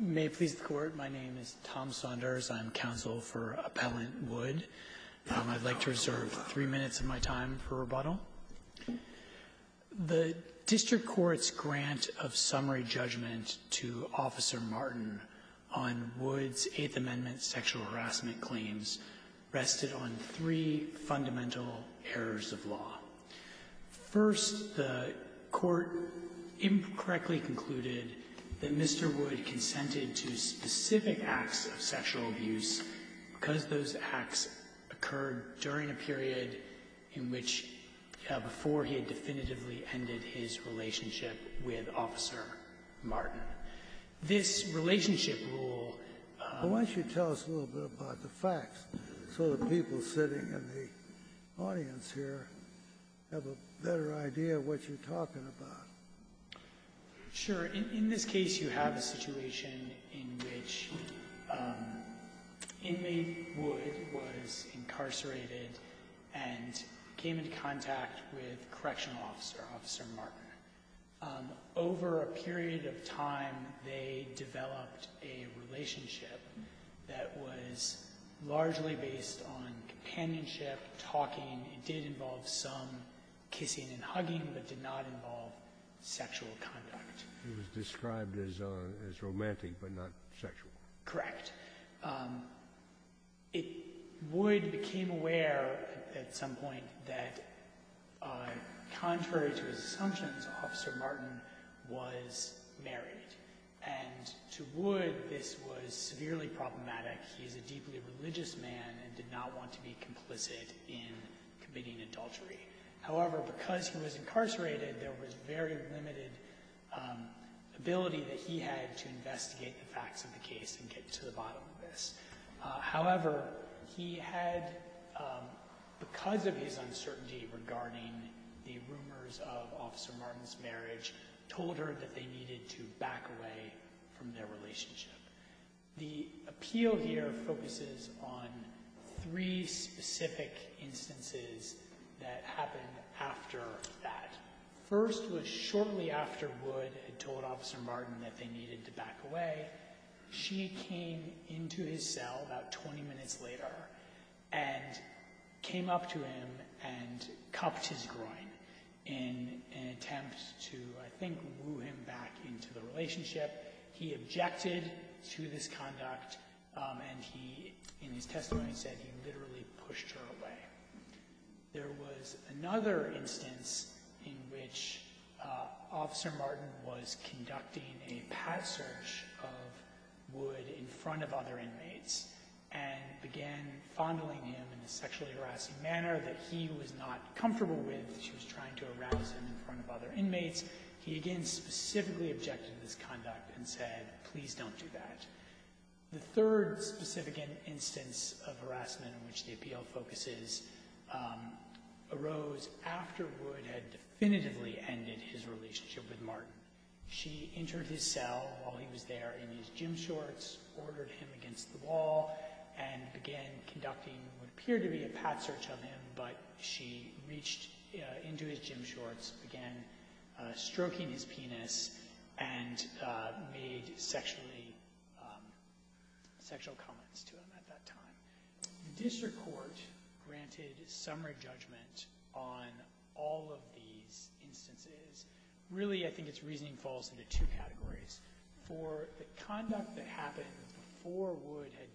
May it please the Court, my name is Tom Saunders. I'm counsel for Appellant Wood. I'd like to reserve three minutes of my time for rebuttal. The district court's grant of summary judgment to Officer Martin on Wood's Eighth Amendment sexual harassment claims rested on three fundamental errors of law. First, the Court incorrectly concluded that Mr. Wood consented to specific acts of sexual abuse because those acts occurred during a period in which before he had definitively ended his relationship with Officer Martin. This relationship rule Why don't you tell us a little bit about the facts, so the people sitting in the audience here have a better idea of what you're talking about. Sure. In this case, you have a situation in which inmate Wood was incarcerated and came into contact with correctional officer, Officer Martin. Over a period of time, they developed a relationship that was largely based on companionship, talking. It did involve some kissing and hugging, but did not involve sexual conduct. It was described as romantic, but not sexual. Correct. Wood became aware at some point that, contrary to his assumptions, Officer Martin was married. And to Wood, this was severely problematic. He is a deeply religious man and did not want to be complicit in committing adultery. However, because he was incarcerated, there was very limited ability that he had to investigate the facts of the case and get to the bottom of this. However, he had, because of his uncertainty regarding the rumors of Officer Martin's marriage, told her that they needed to back away from their relationship. The appeal here focuses on three specific instances that happened after that. First was shortly after Wood had told Officer Martin that they needed to back away. She came into his cell about 20 minutes later and came up to him and cupped his groin in an attempt to, I think, woo him back into the relationship. He objected to this conduct and he, in his testimony, said he literally pushed her away. There was another instance in which Officer Martin was conducting a path search of Wood in front of other inmates and began fondling him in a sexually harassing manner that he was not comfortable with. She was trying to harass him in front of other inmates. He again specifically objected to this conduct and said, please don't do that. The third specific instance of harassment in which the appeal focuses arose after Wood had definitively ended his relationship with Martin. She entered his cell while he was there in his gym shorts, ordered him against the wall, and began conducting what appeared to be a path search of him. But she reached into his gym shorts, began stroking his penis, and made sexual comments to him at that time. The district court granted summary judgment on all of these instances. Really, I think its reasoning falls into two categories. For the conduct that happened before Wood had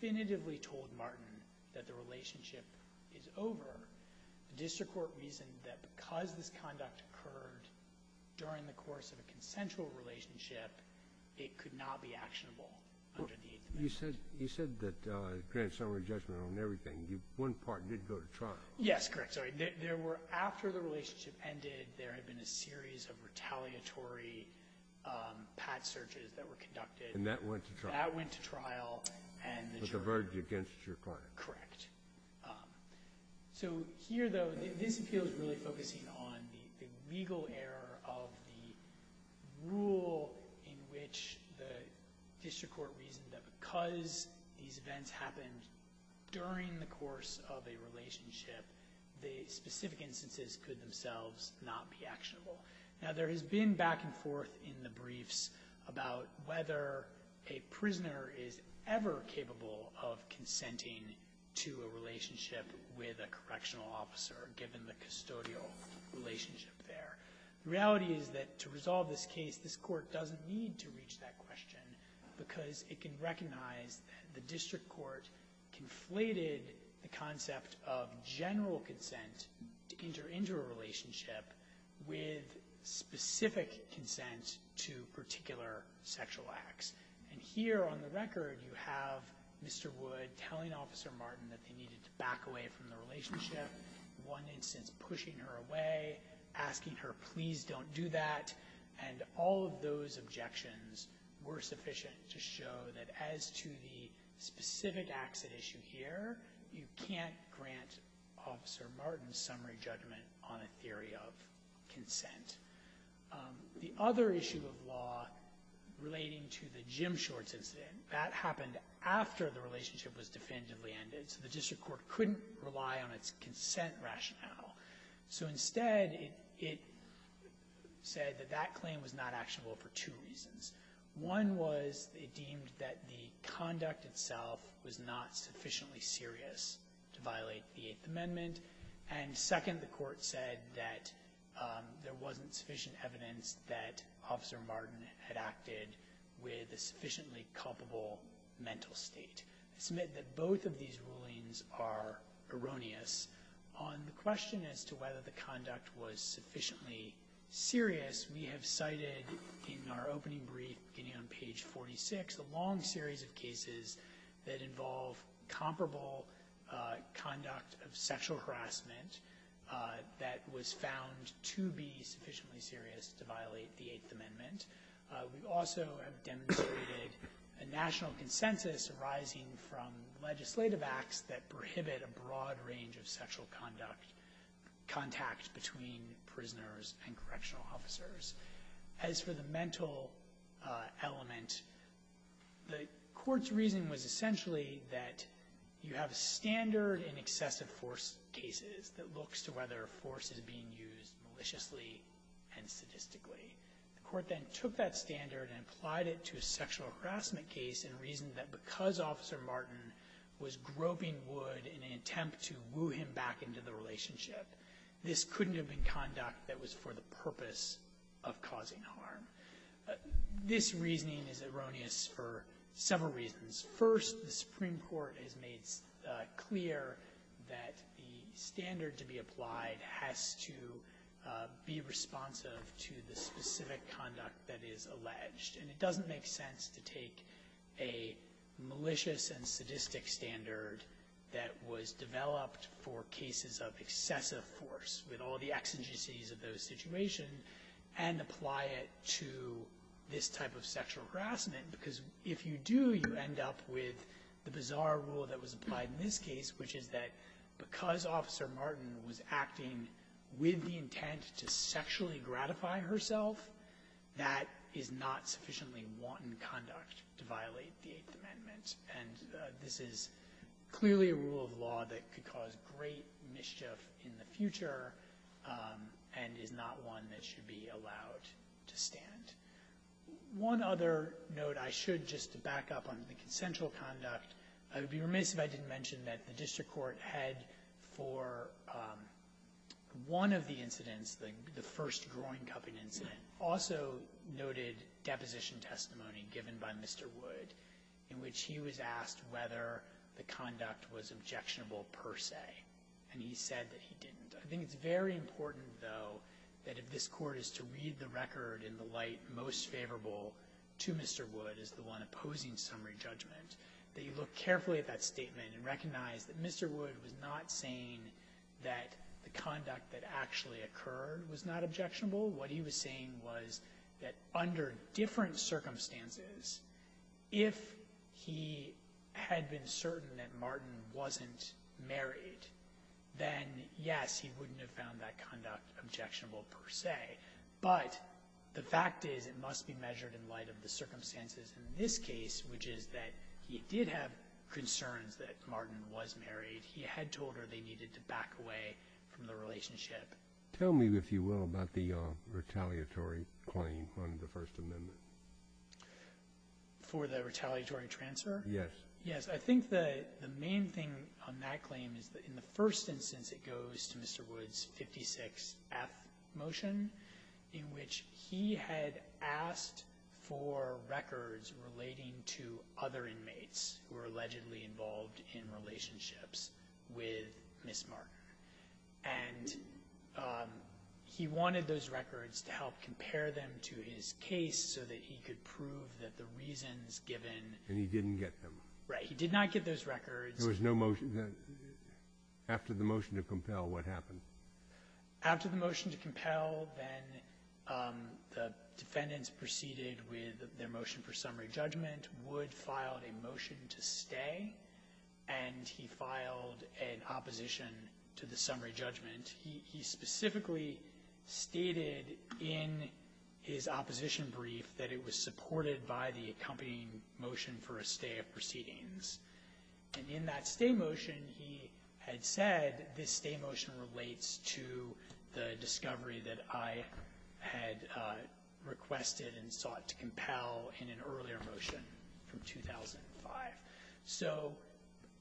definitively told Martin that the relationship is over, the district court reasoned that because this conduct occurred during the course of a consensual relationship, it could not be actionable under the Eighth Amendment. You said that you granted summary judgment on everything. One part did go to trial. Yes, correct. After the relationship ended, there had been a series of retaliatory path searches that were conducted. And that went to trial. That went to trial. With the verdict against your client. Correct. So here though, this appeal is really focusing on the legal error of the rule in which the district court reasoned that because these events happened during the course of a relationship, the specific instances could themselves not be actionable. Now there has been back and forth in the briefs about whether a prisoner is ever capable of consenting to a relationship with a correctional officer, given the custodial relationship there. The reality is that to resolve this case, this court doesn't need to reach that question because it can recognize that the district court conflated the concept of general consent to enter into a relationship with specific consent to particular sexual acts. And here on the record, you have Mr. Wood telling Officer Martin that they needed to back away from the relationship. One instance pushing her away, asking her please don't do that. And all of those objections were sufficient to show that as to the specific accident issue here, you can't grant Officer Martin's summary judgment on a theory of consent. The other issue of law relating to the Jim Shorts incident, that happened after the relationship was definitively ended. So the district court couldn't rely on its consent rationale. So instead, it said that that claim was not actionable for two reasons. One was it deemed that the conduct itself was not sufficiently serious to violate the Eighth Amendment. And second, the court said that there wasn't sufficient evidence that Officer Martin had acted with a sufficiently culpable mental state. I submit that both of these rulings are erroneous. On the question as to whether the conduct was sufficiently serious, we have cited in our opening brief beginning on page 46, a long series of cases that involve comparable conduct of sexual harassment that was found to be sufficiently serious to violate the Eighth Amendment. We also have demonstrated a national consensus arising from legislative acts that prohibit a broad range of sexual contact between prisoners and correctional officers. As for the mental element, the court's reason was essentially that you have a standard in excessive force cases that looks to whether force is being used maliciously and sadistically. The court then took that standard and applied it to a sexual harassment case and reasoned that because Officer Martin was groping Wood in an attempt to woo him back into the relationship, this couldn't have been conduct that was for the purpose of causing harm. This reasoning is erroneous for several reasons. First, the Supreme Court has made clear that the standard to be applied has to be responsive to the specific conduct that is alleged. It doesn't make sense to take a malicious and sadistic standard that was developed for cases of excessive force with all the exigencies of those situations and apply it to this type of sexual harassment because if you do, you end up with the bizarre rule that was applied in this case, which is that because Officer Martin was acting with the intent to sexually gratify herself, that is not sufficiently wanton conduct to violate the Eighth Amendment. And this is clearly a rule of law that could cause great mischief in the future and is not one that should be allowed to stand. One other note I should just back up on the consensual conduct. I would be remiss if I didn't mention that the District Court had for one of the incidents, the first groin cupping incident, also noted deposition testimony given by Mr. Wood in which he was asked whether the conduct was objectionable per se and he said that he didn't. I think it's very important, though, that if this Court is to read the record in the light most favorable to Mr. Wood as the one opposing summary judgment, that you look carefully at that statement and recognize that Mr. Wood was not saying that the conduct that actually occurred was not objectionable. What he was saying was that under different circumstances, if he had been certain that Martin wasn't married, then yes, he wouldn't have found that conduct objectionable per se. But the fact is it must be measured in light of the circumstances in this case, which is that he did have concerns that Martin was married. He had told her they needed to back away from the relationship. Tell me, if you will, about the retaliatory claim on the First Amendment. For the retaliatory transfer? Yes. Yes, I think the main thing on that claim is that in the first instance it goes to Mr. Wood's 56th motion in which he had asked for records relating to other inmates who were allegedly involved in relationships with Ms. Martin. And he wanted those records to help compare them to his case so that he could prove that the reasons given— And he didn't get them. Right. He did not get those records. There was no motion. After the motion to compel, what happened? After the motion to compel, then the defendants proceeded with their motion for summary judgment. Wood filed a motion to stay, and he filed an opposition to the summary judgment. He specifically stated in his opposition brief that it was supported by the accompanying motion for a stay of proceedings. And in that stay motion, he had said that this stay motion relates to the discovery that I had requested and sought to compel in an earlier motion from 2005. So,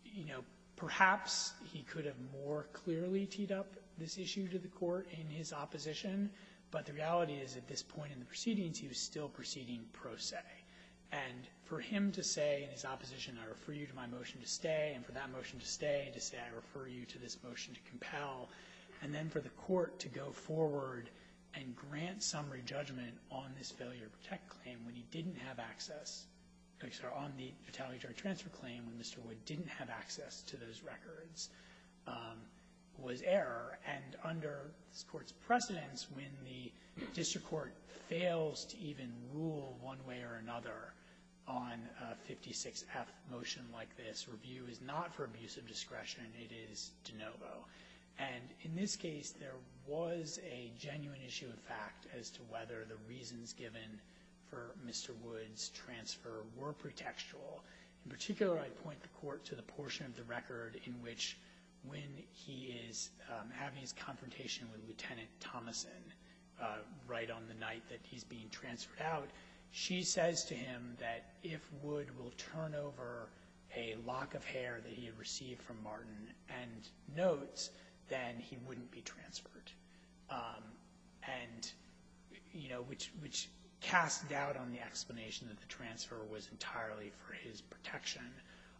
you know, perhaps he could have more clearly teed up this issue to the court in his opposition, but the reality is at this point in the proceedings he was still proceeding pro se. And for him to say in his opposition, I refer you to my motion to stay, and for that motion to stay, to say I refer you to this motion to compel, and then for the court to go forward and grant summary judgment on this failure to protect claim when he didn't have access, I'm sorry, on the fatality charge transfer claim when Mr. Wood didn't have access to those records was error. And under this court's precedence, when the district court fails to even rule one way or another on a 56-F motion like this, this review is not for abuse of discretion. It is de novo. And in this case, there was a genuine issue of fact as to whether the reasons given for Mr. Wood's transfer were pretextual. In particular, I point the court to the portion of the record in which when he is having his confrontation with Lieutenant Thomason right on the night that he's being transferred out, she says to him that if Wood will turn over a lock of hair that he had received from Martin and notes, then he wouldn't be transferred. And, you know, which casts doubt on the explanation that the transfer was entirely for his protection.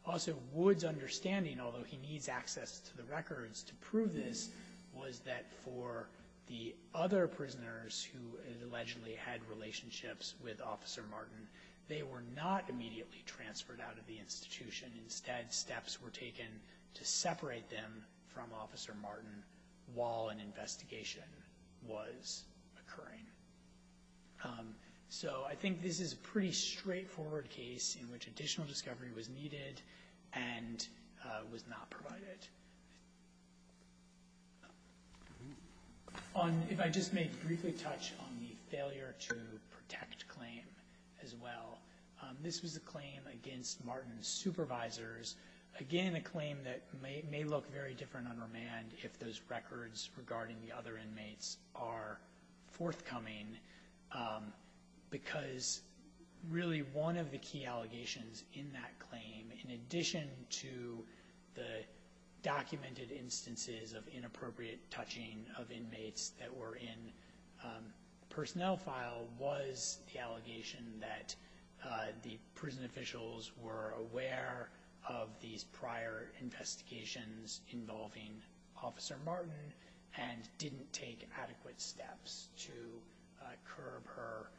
Also, Wood's understanding, although he needs access to the records to prove this, was that for the other prisoners who allegedly had relationships with Officer Martin, they were not immediately transferred out of the institution. Instead, steps were taken to separate them from Officer Martin while an investigation was occurring. So I think this is a pretty straightforward case in which additional discovery was needed and was not provided. If I just may briefly touch on the failure to protect claim as well. This was a claim against Martin's supervisors. Again, a claim that may look very different on remand if those records regarding the other inmates are forthcoming because really one of the key allegations in that claim, in addition to the documented instances of inappropriate touching of inmates that were in personnel file, was the allegation that the prison officials were aware of these prior investigations involving Officer Martin and didn't take adequate steps to curb her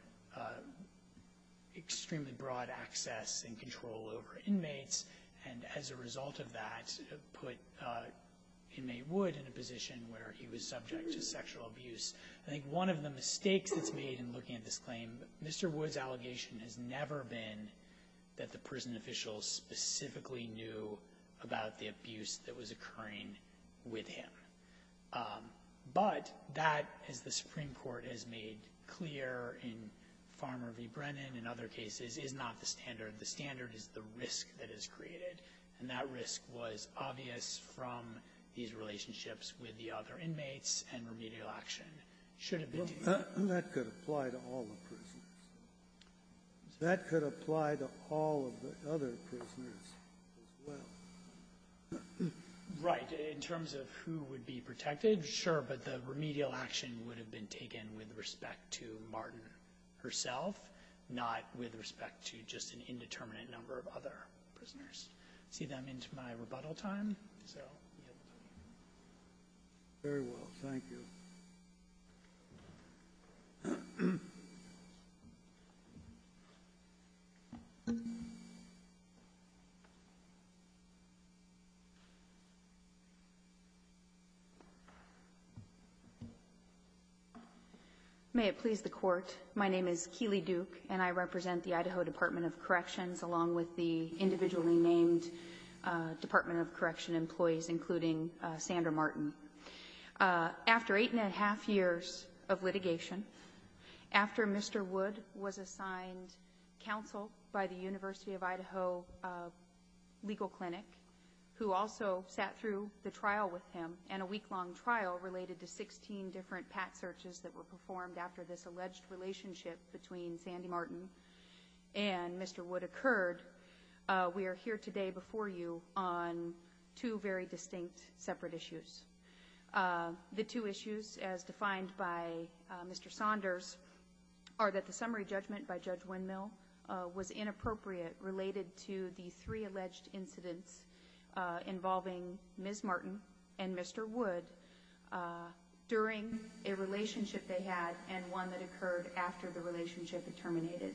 extremely broad access and control over inmates. And as a result of that, put Inmate Wood in a position where he was subject to sexual abuse. I think one of the mistakes that's made in looking at this claim, Mr. Wood's allegation has never been that the prison officials specifically knew about the abuse that was occurring with him. But that, as the Supreme Court has made clear in Farmer v. Brennan and other cases, is not the standard. The standard is the risk that is created. And that risk was obvious from these relationships with the other inmates and remedial action should have been taken. That could apply to all the prisoners. That could apply to all of the other prisoners as well. Right. In terms of who would be protected, sure, but the remedial action would have been taken with respect to Martin herself, not with respect to just an indeterminate number of other prisoners. I don't see them into my rebuttal time. Very well. Thank you. May it please the Court, my name is Keely Duke and I represent the Idaho Department of Corrections along with the individually named Department of Correction employees including Sandra Martin. After eight and a half years of litigation, after Mr. Wood was assigned counsel by the University of Idaho legal clinic who also sat through the trial with him and a week-long trial related to 16 different PAT searches that were performed after this alleged relationship between Sandy Martin and Mr. Wood occurred, we are here today before you on two very distinct separate issues. The two issues as defined by Mr. Saunders are that the summary judgment by Judge Windmill was inappropriate related to the three alleged incidents involving Ms. Martin and Mr. Wood during a relationship they had and one that occurred after the relationship had terminated.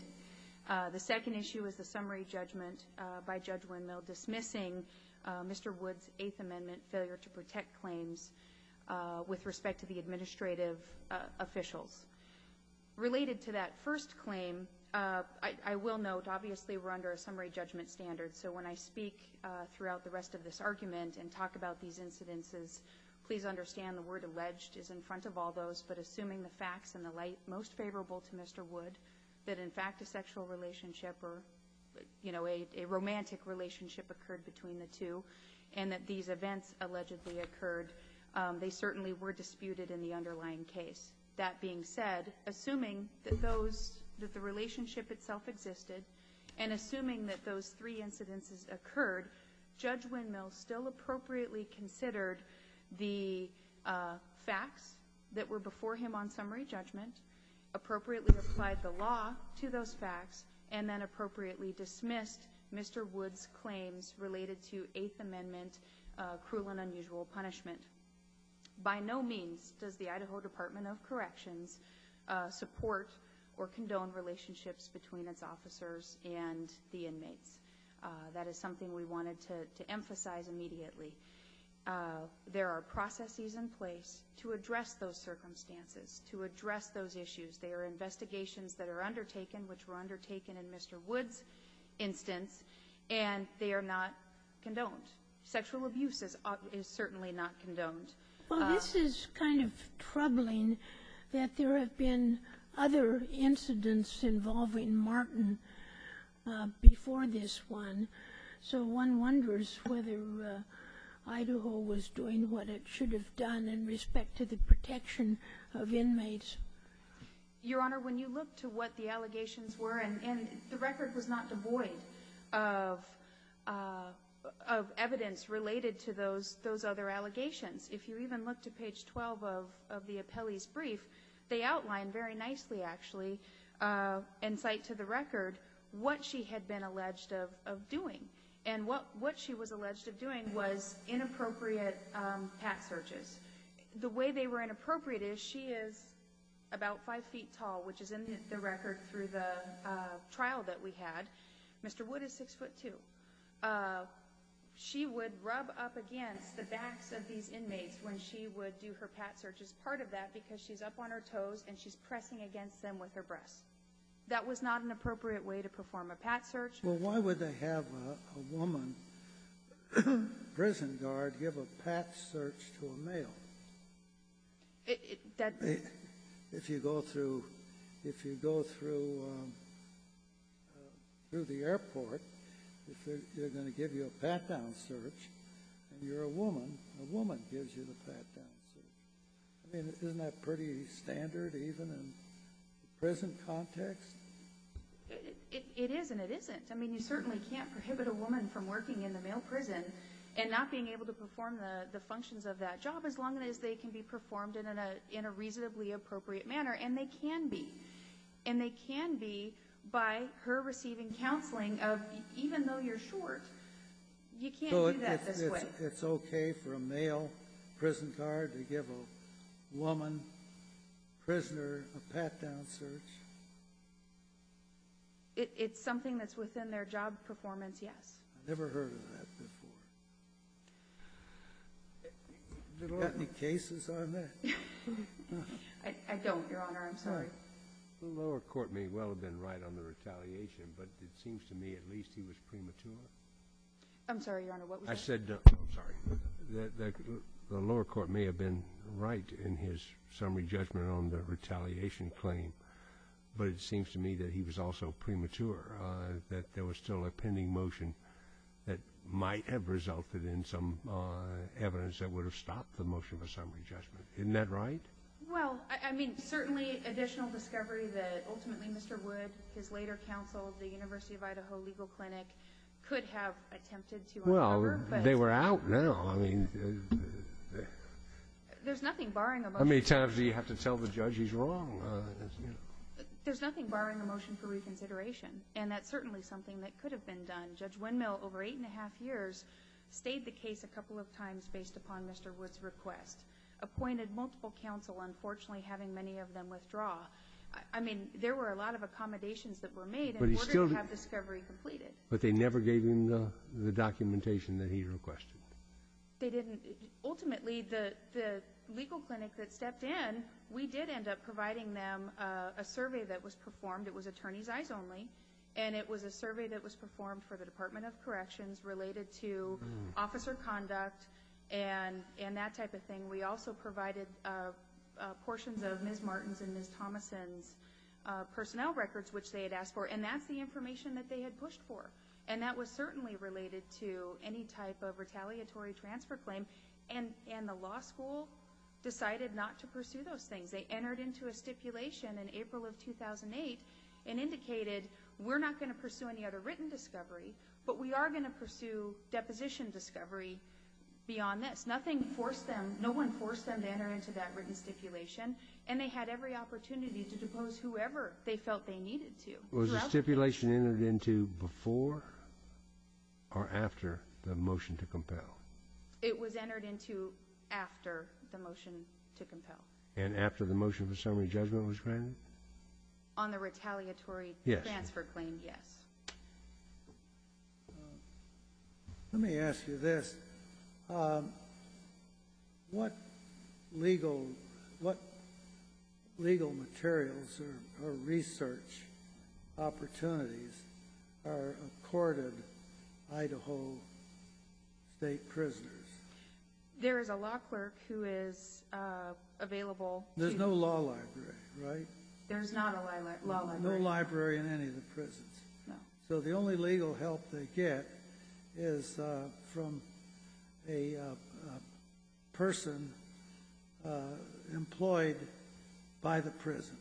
The second issue is the summary judgment by Judge Windmill dismissing Mr. Wood's Eighth Amendment failure to protect claims with respect to the administrative officials. Related to that first claim I will note obviously we're under a summary judgment standard so when I speak throughout the rest of this argument and talk about these incidences, please understand the word alleged is in front of all those but assuming the facts and the light most favorable to Mr. Wood that in fact a sexual relationship or a romantic relationship occurred between the two and that these events allegedly occurred they certainly were disputed in the underlying case. That being said, assuming that the relationship itself existed and assuming that those three incidents occurred Judge Windmill still appropriately considered the evidence before him on summary judgment appropriately applied the law to those facts and then appropriately dismissed Mr. Wood's claims related to Eighth Amendment cruel and unusual punishment. By no means does the Idaho Department of Corrections support or condone relationships between its officers and the inmates. That is something we wanted to emphasize immediately. There are processes in place to address those circumstances to address those issues there are investigations that are undertaken which were undertaken in Mr. Wood's instance and they are not condoned. Sexual abuse is certainly not condoned. Well this is kind of troubling that there have been other incidents involving Martin before this one so one wonders whether Idaho was doing what it should have done in respect to the protection of inmates. Your Honor, when you look to what the allegations were and the record was not devoid of evidence related to those other allegations if you even look to page 12 of the appellee's brief they outline very nicely actually and cite to the record what she had been alleged of doing and what she was alleged of doing was inappropriate pat searches. The way they were inappropriate is she is about five feet tall which is in the record through the trial that we had Mr. Wood is six foot two. She would rub up against the backs of these inmates when she would do her pat searches part of that because she's up on her toes and she's pressing against them with her breasts. That was not an appropriate way to perform a pat search. Why would they have a woman prison guard give a pat search to a male? If you go through the airport they're going to give you a pat down search and you're a woman a woman gives you the pat down search. Isn't that pretty standard even in prison context? It is and it isn't. You certainly can't prohibit a woman from working in the male prison and not being able to perform the functions of that job as long as they can be performed in a reasonably appropriate manner and they can be and they can be by her receiving counseling of even though you're short you can't do that this way. It's okay for a male prison guard to give a woman prisoner a pat down search. It's something that's within their job performance, yes. I've never heard of that before. Do you have any cases on that? I don't, Your Honor, I'm sorry. The lower court may well have been right on the retaliation but it seems to me at least he was premature. I'm sorry, Your Honor, what was that? The lower court may have been right in his summary judgment on the retaliation claim but it seems to me that he was also premature, that there was still a pending motion that might have resulted in some evidence that would have stopped the motion for summary judgment. Isn't that right? Well, I mean, certainly additional discovery that ultimately Mr. Wood his later counsel at the University of Idaho Legal Clinic could have attempted to uncover They were out now. There's nothing How many times do you have to tell the judge he's wrong? There's nothing barring a motion for reconsideration and that's certainly something that could have been done. Judge Windmill, over eight and a half years stayed the case a couple of times based upon Mr. Wood's request appointed multiple counsel unfortunately having many of them withdraw I mean, there were a lot of accommodations that were made in order to have discovery completed. But they never gave him the documentation that he requested? They didn't. Ultimately, the legal clinic that stepped in we did end up providing them a survey that was performed. It was attorneys' eyes only. And it was a survey that was performed for the Department of Corrections related to officer conduct and that type of thing. We also provided portions of Ms. Martin's and Ms. Thomason's personnel records which they had asked for. And that's the information that they had pushed for. And that was certainly related to any type of retaliatory transfer claim and the law school decided not to pursue those things they entered into a stipulation in April of 2008 and indicated we're not going to pursue any other written discovery, but we are going to pursue deposition discovery beyond this. Nothing forced them, no one forced them to enter into that written stipulation and they had every opportunity to depose whoever they felt they needed to. Was the stipulation entered into before or after the motion to compel? It was entered into after the motion to compel. And after the motion for summary judgment was granted? On the retaliatory transfer claim, yes. Let me ask you this. What legal materials or research opportunities are accorded Idaho state prisoners? There is a law clerk who is available. There's no law library, right? There's not a law library. No library in any of the prisons. So the only legal help they get is from a person employed by the prison.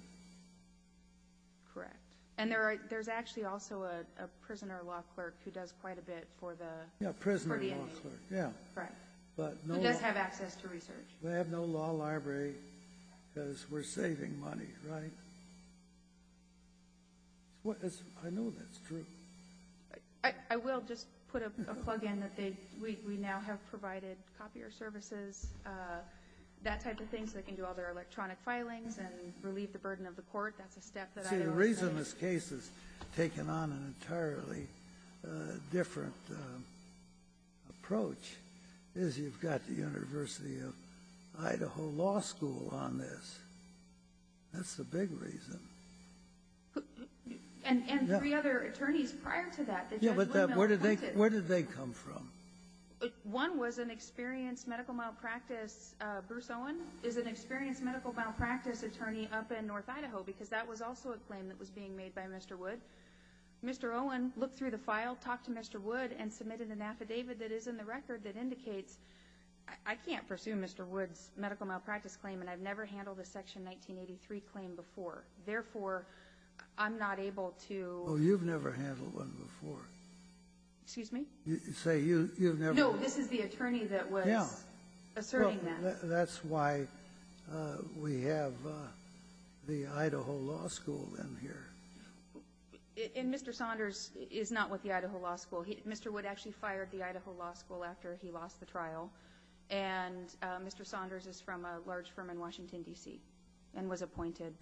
Correct. And there's actually also a prisoner law clerk who does quite a bit for the inmates. Who does have access to research. We have no law library because we're saving money, right? I know that's true. I will just put a plug in that we now have provided copier services that type of thing so they can do all their work. So that's a step that Idaho is taking. See, the reason this case has taken on an entirely different approach is you've got the University of Idaho Law School on this. That's the big reason. And three other attorneys prior to that. Where did they come from? One was an experienced medical malpractice, Bruce Owen is an experienced medical malpractice attorney up in North Idaho because that was also a claim that was being made by Mr. Wood. Mr. Owen looked through the file, talked to Mr. Wood and submitted an affidavit that is in the record that indicates, I can't pursue Mr. Wood's medical malpractice claim and I've never handled a Section 1983 claim before. Therefore I'm not able to Oh, you've never handled one before. Excuse me? No, this is the attorney that was asserting that. That's why we have the Idaho Law School in here. And Mr. Saunders is not with the Idaho Law School. Mr. Wood actually fired the Idaho Law School after he lost the trial and Mr. Saunders is from a large firm in Washington, D.C. and was appointed.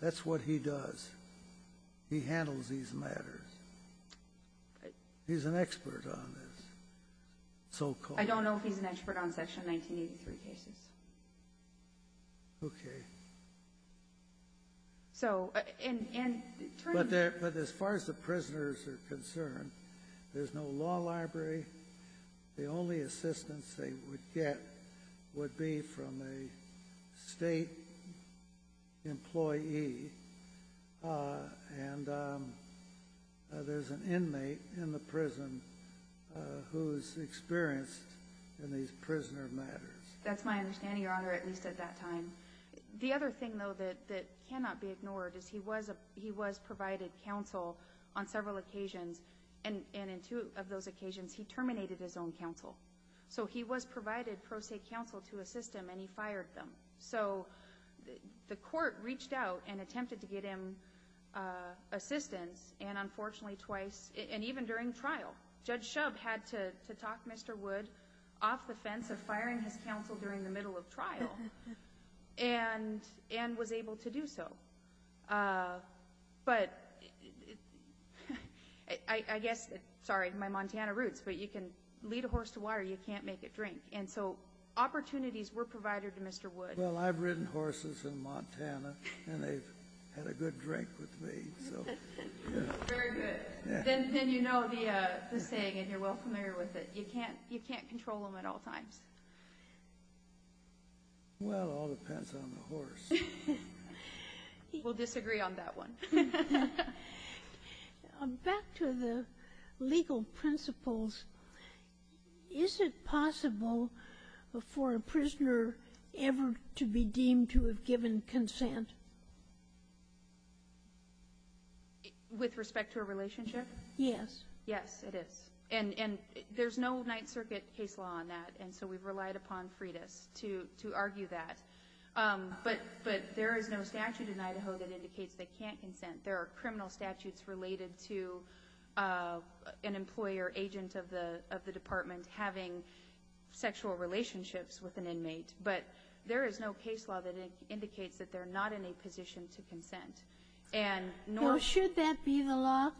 That's what he does. He handles these matters. He's an expert on this. I don't know if he's an expert on Section 1983 cases. Okay. So But as far as the prisoners are concerned there's no law library the only assistance they would get would be from a state employee and there's an inmate in the prison who's experienced in these prisoner matters. That's my understanding, Your Honor, at least at that time. The other thing though that cannot be ignored is he was provided counsel on several occasions and in two of those occasions he terminated his own counsel. So he was provided pro se counsel to assist him and he fired them. So the court reached out and attempted to get him assistance and unfortunately twice, and even during trial, Judge Shub had to talk Mr. Wood off the fence of firing his counsel during the middle of trial and was able to do so. But I guess sorry, my Montana roots but you can lead a horse to water you can't make it drink. And so opportunities were provided to Mr. Wood. Well, I've ridden horses in Montana and they've had a good drink with me. Very good. Then you know the saying and you're well familiar with it you can't control them at all times. Well, it all depends on the horse. We'll disagree on that one. Back to the legal principles is it possible for a prisoner ever to be deemed to have given consent? With respect to a relationship? Yes. Yes, it is. And there's no Ninth Circuit case law on that and so we've relied upon Freitas to argue that. But there is no statute in Idaho that indicates they can't consent. There are criminal statutes related to an employee or agent of the department having sexual relationships with an inmate. But there is no case law that indicates that they're not in a position to consent. Should that be the law?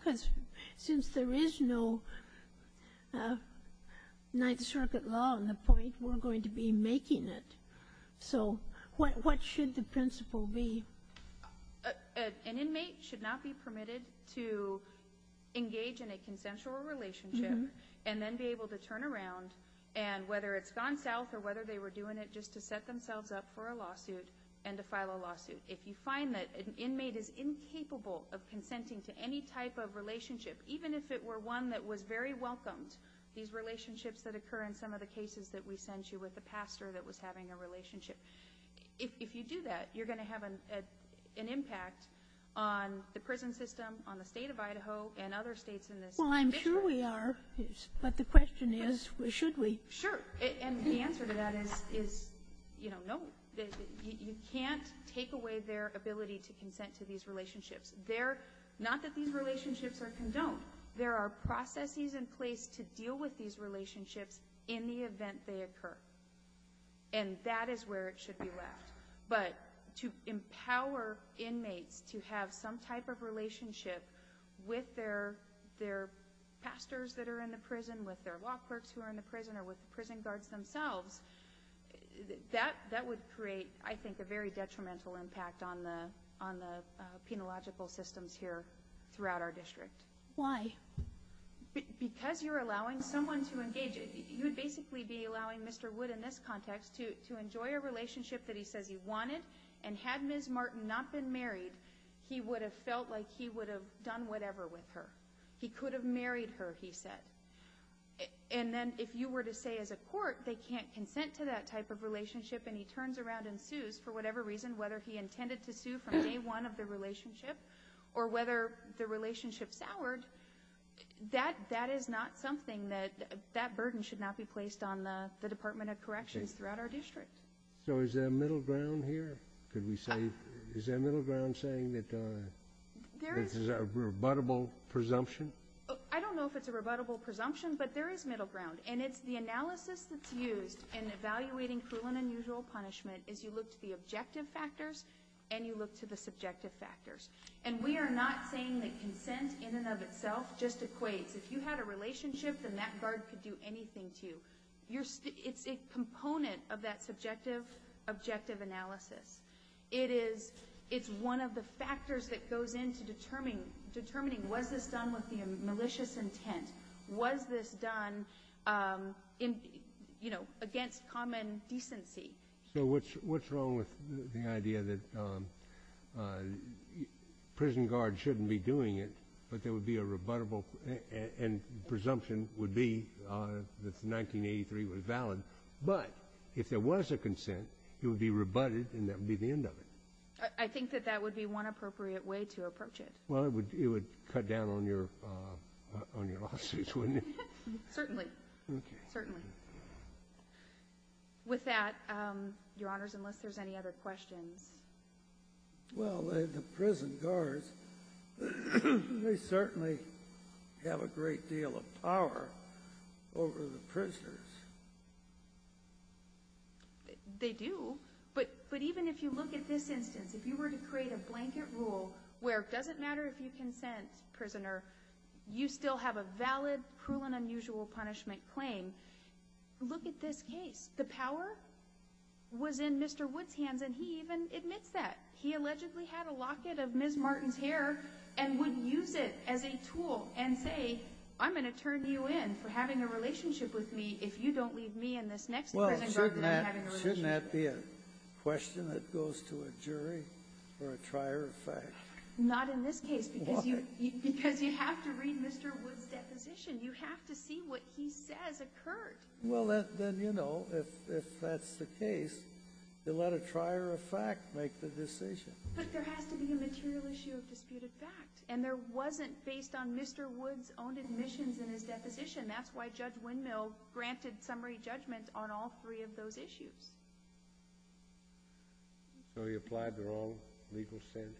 Since there is no Ninth Circuit law on the point we're going to be making it. So what should the principle be? An inmate should not be permitted to engage in a consensual relationship and then be able to turn around and whether it's gone south or whether they were doing it just to set themselves up for a lawsuit and to file a lawsuit. If you find that an inmate is incapable of consenting to any type of relationship, even if it were one that was very welcomed, these relationships that occur in some of the cases that we sent you with the pastor that was having a relationship if you do that you're going to have an impact on the prison system, on the state of Idaho and other states Well I'm sure we are but the question is should we? Sure and the answer to that is you know you can't take away their ability to consent to these relationships not that these relationships are condoned. There are processes in place to deal with these relationships in the event they occur and that is where it should be left. But to empower inmates to have some type of relationship with their pastors that are in the prison with their law clerks who are in the prison or with prison guards themselves that would create I think a very detrimental impact on the penological systems here throughout our district Why? Because you're allowing someone to engage you would basically be allowing Mr. Wood in this context to enjoy a relationship that he says he wanted and had Ms. Martin not been married he would have felt like he would have done whatever with her he could have married her he said and then if you were to say as a court they can't consent to that type of relationship and he turns around and sues for whatever reason whether he intended to sue from day one of the relationship or whether the relationship soured that is not something that that burden should not be placed on the Department of Corrections throughout our district So is there middle ground here? Is there middle ground saying that this is a rebuttable presumption? I don't know if it's a rebuttable presumption but there is middle ground and it's the analysis that's used in evaluating cruel and unusual punishment is you look to the objective factors and you look to the subjective factors and we are not saying that consent in and of itself just equates if you had a relationship then that guard could do anything to you it's a component of that subjective objective analysis it is one of the factors that goes into determining was this done with malicious intent was this done against common decency So what's wrong with the idea that prison guards shouldn't be doing it but there would be a rebuttable and presumption would be that the 1983 was valid but if there was a consent it would be rebutted and that would be the end of it I think that would be one appropriate way to approach it Well it would cut down on your lawsuits wouldn't it? Certainly With that, your honors unless there's any other questions Well the prison guards they certainly have a great deal of power over the prisoners They do but even if you look at this instance if you were to create a blanket rule where it doesn't matter if you consent you still have a valid cruel and unusual punishment claim look at this case the power was in Mr. Wood's hands and he even admits that he allegedly had a locket of Ms. Martin's hair and would use it as a tool and say I'm going to turn you in for having a relationship with me if you don't leave me in this next prison garden Shouldn't that be a question that goes to a jury or a trier of fact? Not in this case because you have to read Mr. Wood's deposition you have to see what he says occurred Well then you know if that's the case let a trier of fact make the decision But there has to be a material issue of disputed fact and there wasn't based on Mr. Wood's own admissions in his deposition that's why Judge Windmill granted summary judgment on all three of those issues So he applied the wrong legal standard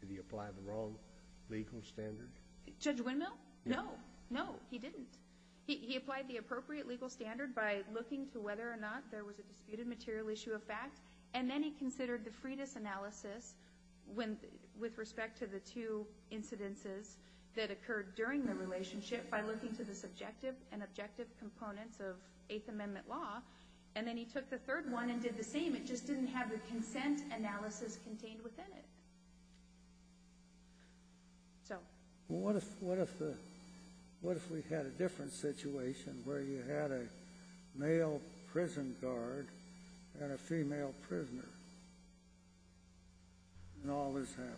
Did he apply the wrong legal standard? Judge Windmill? No No, he didn't He applied the appropriate legal standard by looking to whether or not there was a disputed material issue of fact and then he considered the Freitas analysis with respect to the two incidences that occurred during the relationship by looking to the subjective and objective components of Eighth Amendment law and then he took the third one and did the same, it just didn't have the consent analysis contained within it What if we had a different situation where you had a male prison guard and a female prisoner and all this happened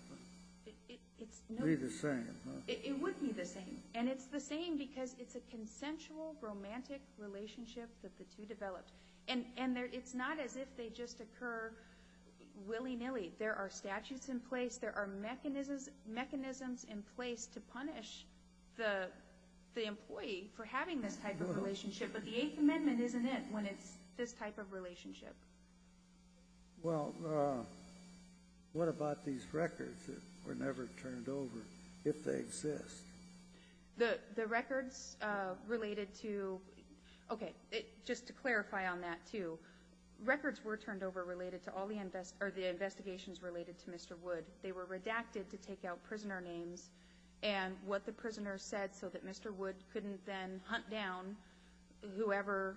It'd be the same It would be the same and it's the same because it's a consensual romantic relationship that the two developed and it's not as if they just occur willy-nilly there are statutes in place there are mechanisms in place to punish the employee for having this type of relationship but the Eighth Amendment isn't it when it's this type of relationship Well what about these records that were never turned over if they exist The records related to just to clarify on that too records were turned over related to all the investigations related to Mr. Wood they were redacted to take out prisoner names and what the prisoner said so that Mr. Wood couldn't then hunt down whoever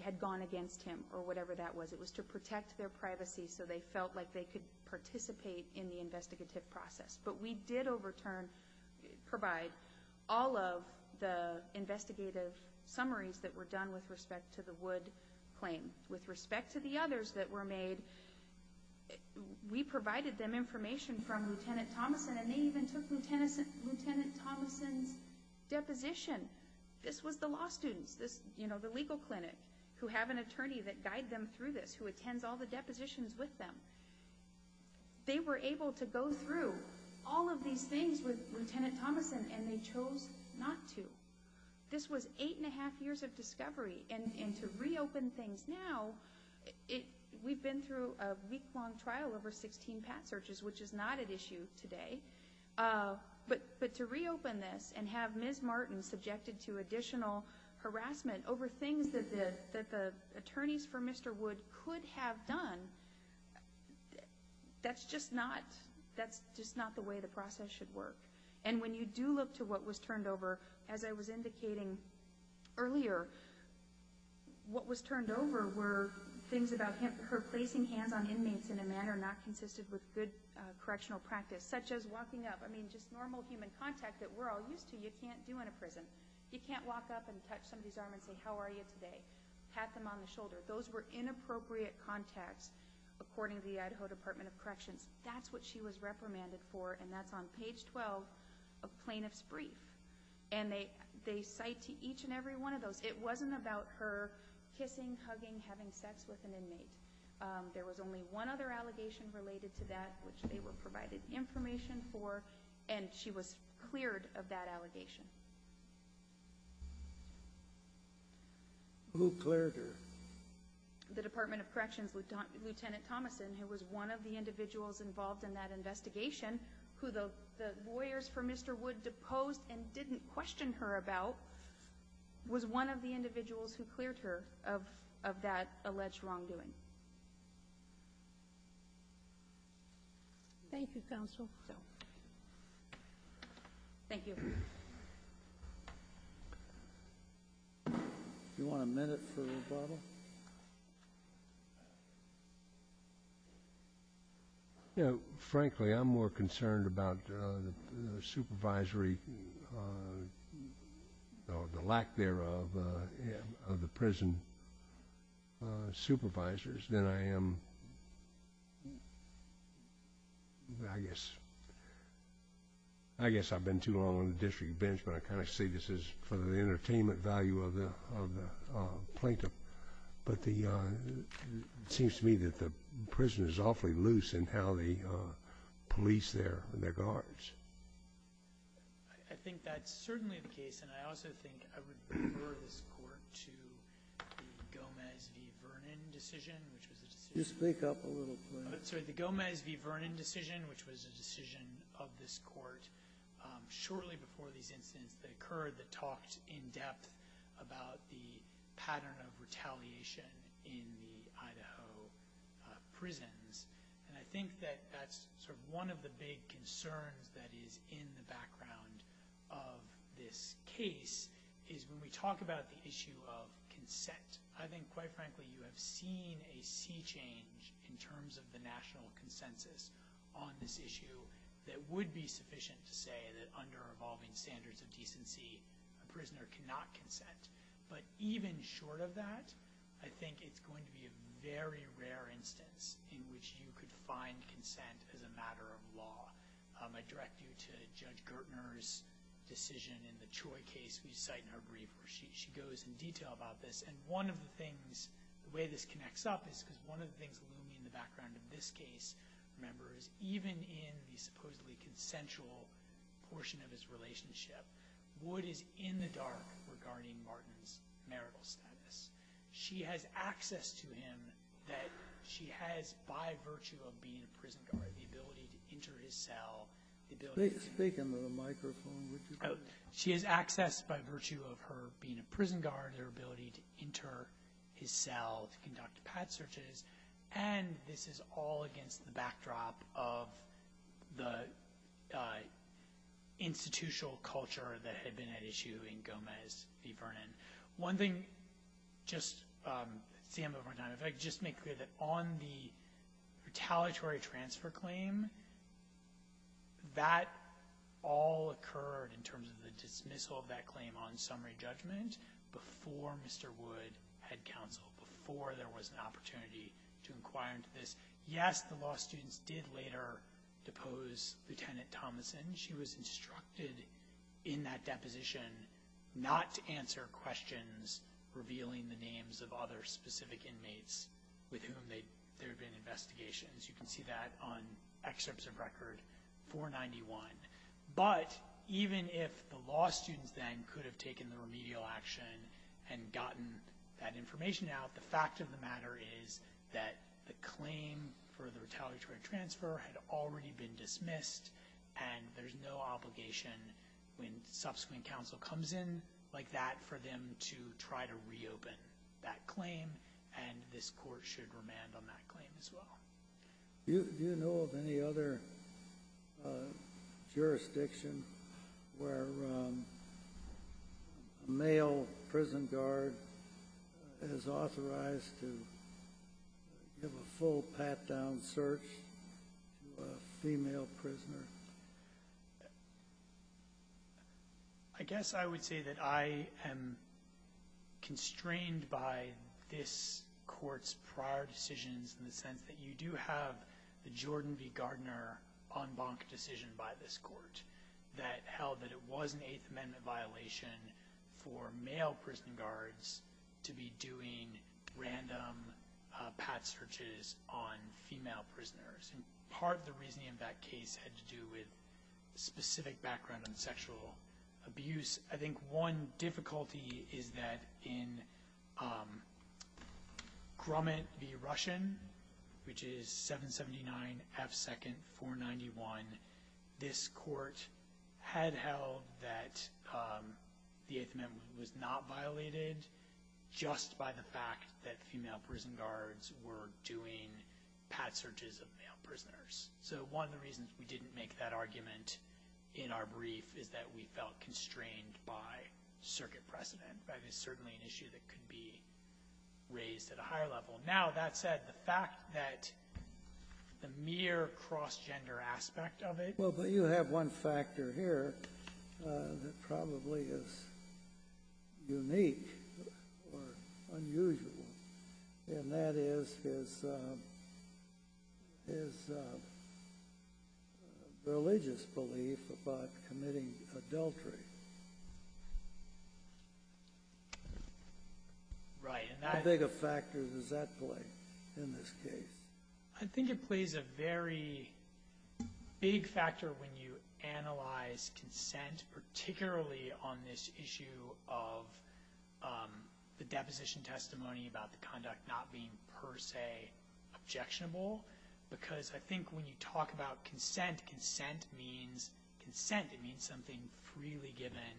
had gone against him or whatever that was it was to protect their privacy so they felt like they could participate in the investigative process but we did overturn provide all of the investigative summaries that were done with respect to the Wood claim with respect to the others that were made we provided them information from Lt. Thomason and they even took Lt. Thomason's deposition this was the law students you know the legal clinic who have an attorney that guide them through this who attends all the depositions with them they were able to go through all of these things with Lt. Thomason and they chose not to this was 8 and a half years of discovery and to reopen things now we've been through a week long trial over 16 searches which is not at issue today but to reopen this and have Ms. Martin subjected to additional harassment over things that the attorneys for Mr. Wood could have done that's just not the way the process should work and when you do look to what was turned over as I was indicating earlier what was turned over were things about her placing hands on good correctional practice such as walking up you can't do in a prison you can't walk up and touch somebody's arm and say how are you today pat them on the shoulder those were inappropriate contacts according to the Idaho Department of Corrections that's what she was reprimanded for and that's on page 12 of plaintiff's brief and they cite to each and every one of those it wasn't about her kissing, hugging having sex with an inmate there was only one other allegation related to that which they were provided information for and she was cleared of that allegation Who cleared her? The Department of Corrections Lt. Thomason who was one of the individuals involved in that investigation who the lawyers for Mr. Wood deposed and didn't question her about was one of the individuals who cleared her of that alleged wrongdoing Thank you counsel Thank you Do you want a minute for rebuttal? Frankly I'm more concerned about the supervisory or the lack thereof of the prison supervisors than I am I guess I've been too long on the district bench but I kind of say this is for the entertainment value of the plaintiff but it seems to me that the police their guards I think that's certainly the case and I also think I would refer this court to the Gomez v. Vernon decision You speak up a little The Gomez v. Vernon decision which was a decision of this court shortly before these incidents that occurred that talked in depth about the pattern of retaliation in the Idaho prisons and I think that's one of the big concerns that is in the background of this case is when we talk about the issue of consent I think quite frankly you have seen a sea change in terms of the national consensus on this issue that would be sufficient to say that under evolving standards of decency a prisoner cannot consent but even short of that I think it's going to be a very rare instance in which you could find consent as a matter of law I direct you to Judge Gertner's decision in the Troy case we cite in her brief where she goes in detail about this and one of the things the way this connects up is because one of the things looming in the background of this case even in the supposedly consensual portion of his relationship Wood is in the dark regarding Martin's marital status She has access to him that she has by virtue of being a prison guard the ability to enter his cell Speak into the microphone She has access by virtue of her being a prison guard the ability to enter his cell to conduct pad searches and this is all against the backdrop of the institutional culture that had been at issue in Gomez v. Vernon One thing Sam if I could just make clear on the retaliatory transfer claim that all occurred in terms of the dismissal of that claim on summary judgment before Mr. Wood had counseled, before there was an opportunity to inquire into this Yes, the law students did later depose Lieutenant Thomason. She was instructed in that deposition not to answer questions revealing the names of other specific inmates with whom there had been investigations You can see that on excerpts of record 491 But even if the law students then could have taken the remedial action and gotten that information out, the fact of the matter is that the claim for the retaliatory transfer had already been dismissed and there's no obligation when subsequent counsel comes in like that for them to try to reopen that claim and this court should remand on that claim as well Do you know of any other jurisdiction where a male prison guard is authorized to give a full pat-down search to a female prisoner I guess I would say that I am constrained by this court's prior decisions in the sense that you do have the Jordan v. Gardner en banc decision by this court that held that it was an 8th amendment violation for male prison guards to be doing random pat searches on female prisoners and part of the reasoning of that case had to do with specific background on sexual abuse. I think one difficulty is that in Grumman v. Russian which is 779 F. 2nd 491 this court had held that the 8th amendment was not violated just by the fact that female prison guards were doing pat searches of male prisoners. So one of the reasons we didn't make that argument in our brief is that we felt constrained by circuit precedent. That is certainly an issue that could be raised at a higher level. Now that said the fact that the mere cross gender aspect of it. Well but you have one factor here that probably is unique or unusual and that is his religious belief about committing adultery. How big a factor does that play in this case? I think it plays a very big factor when you analyze consent particularly on this issue of the deposition testimony about the conduct not being per se objectionable because I think when you talk about consent consent means something freely given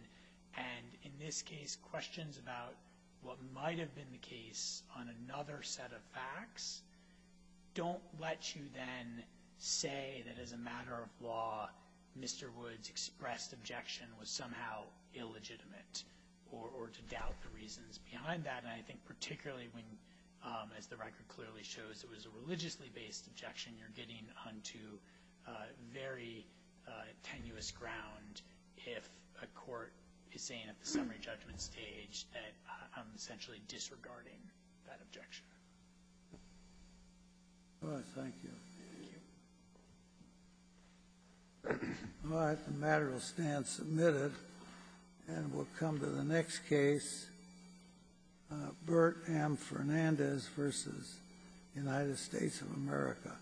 and in this case questions about what might have been the case on another set of facts don't let you then say that as a matter of law Mr. Woods expressed objection was somehow illegitimate or to doubt the reasons behind that and I think particularly when as the record clearly shows it was a religiously based objection you're getting onto very tenuous ground if a court is saying at the summary judgment stage that I'm essentially disregarding that objection. Thank you. The matter will stand submitted and we'll come to the next case Bert M. Fernandez versus United States of America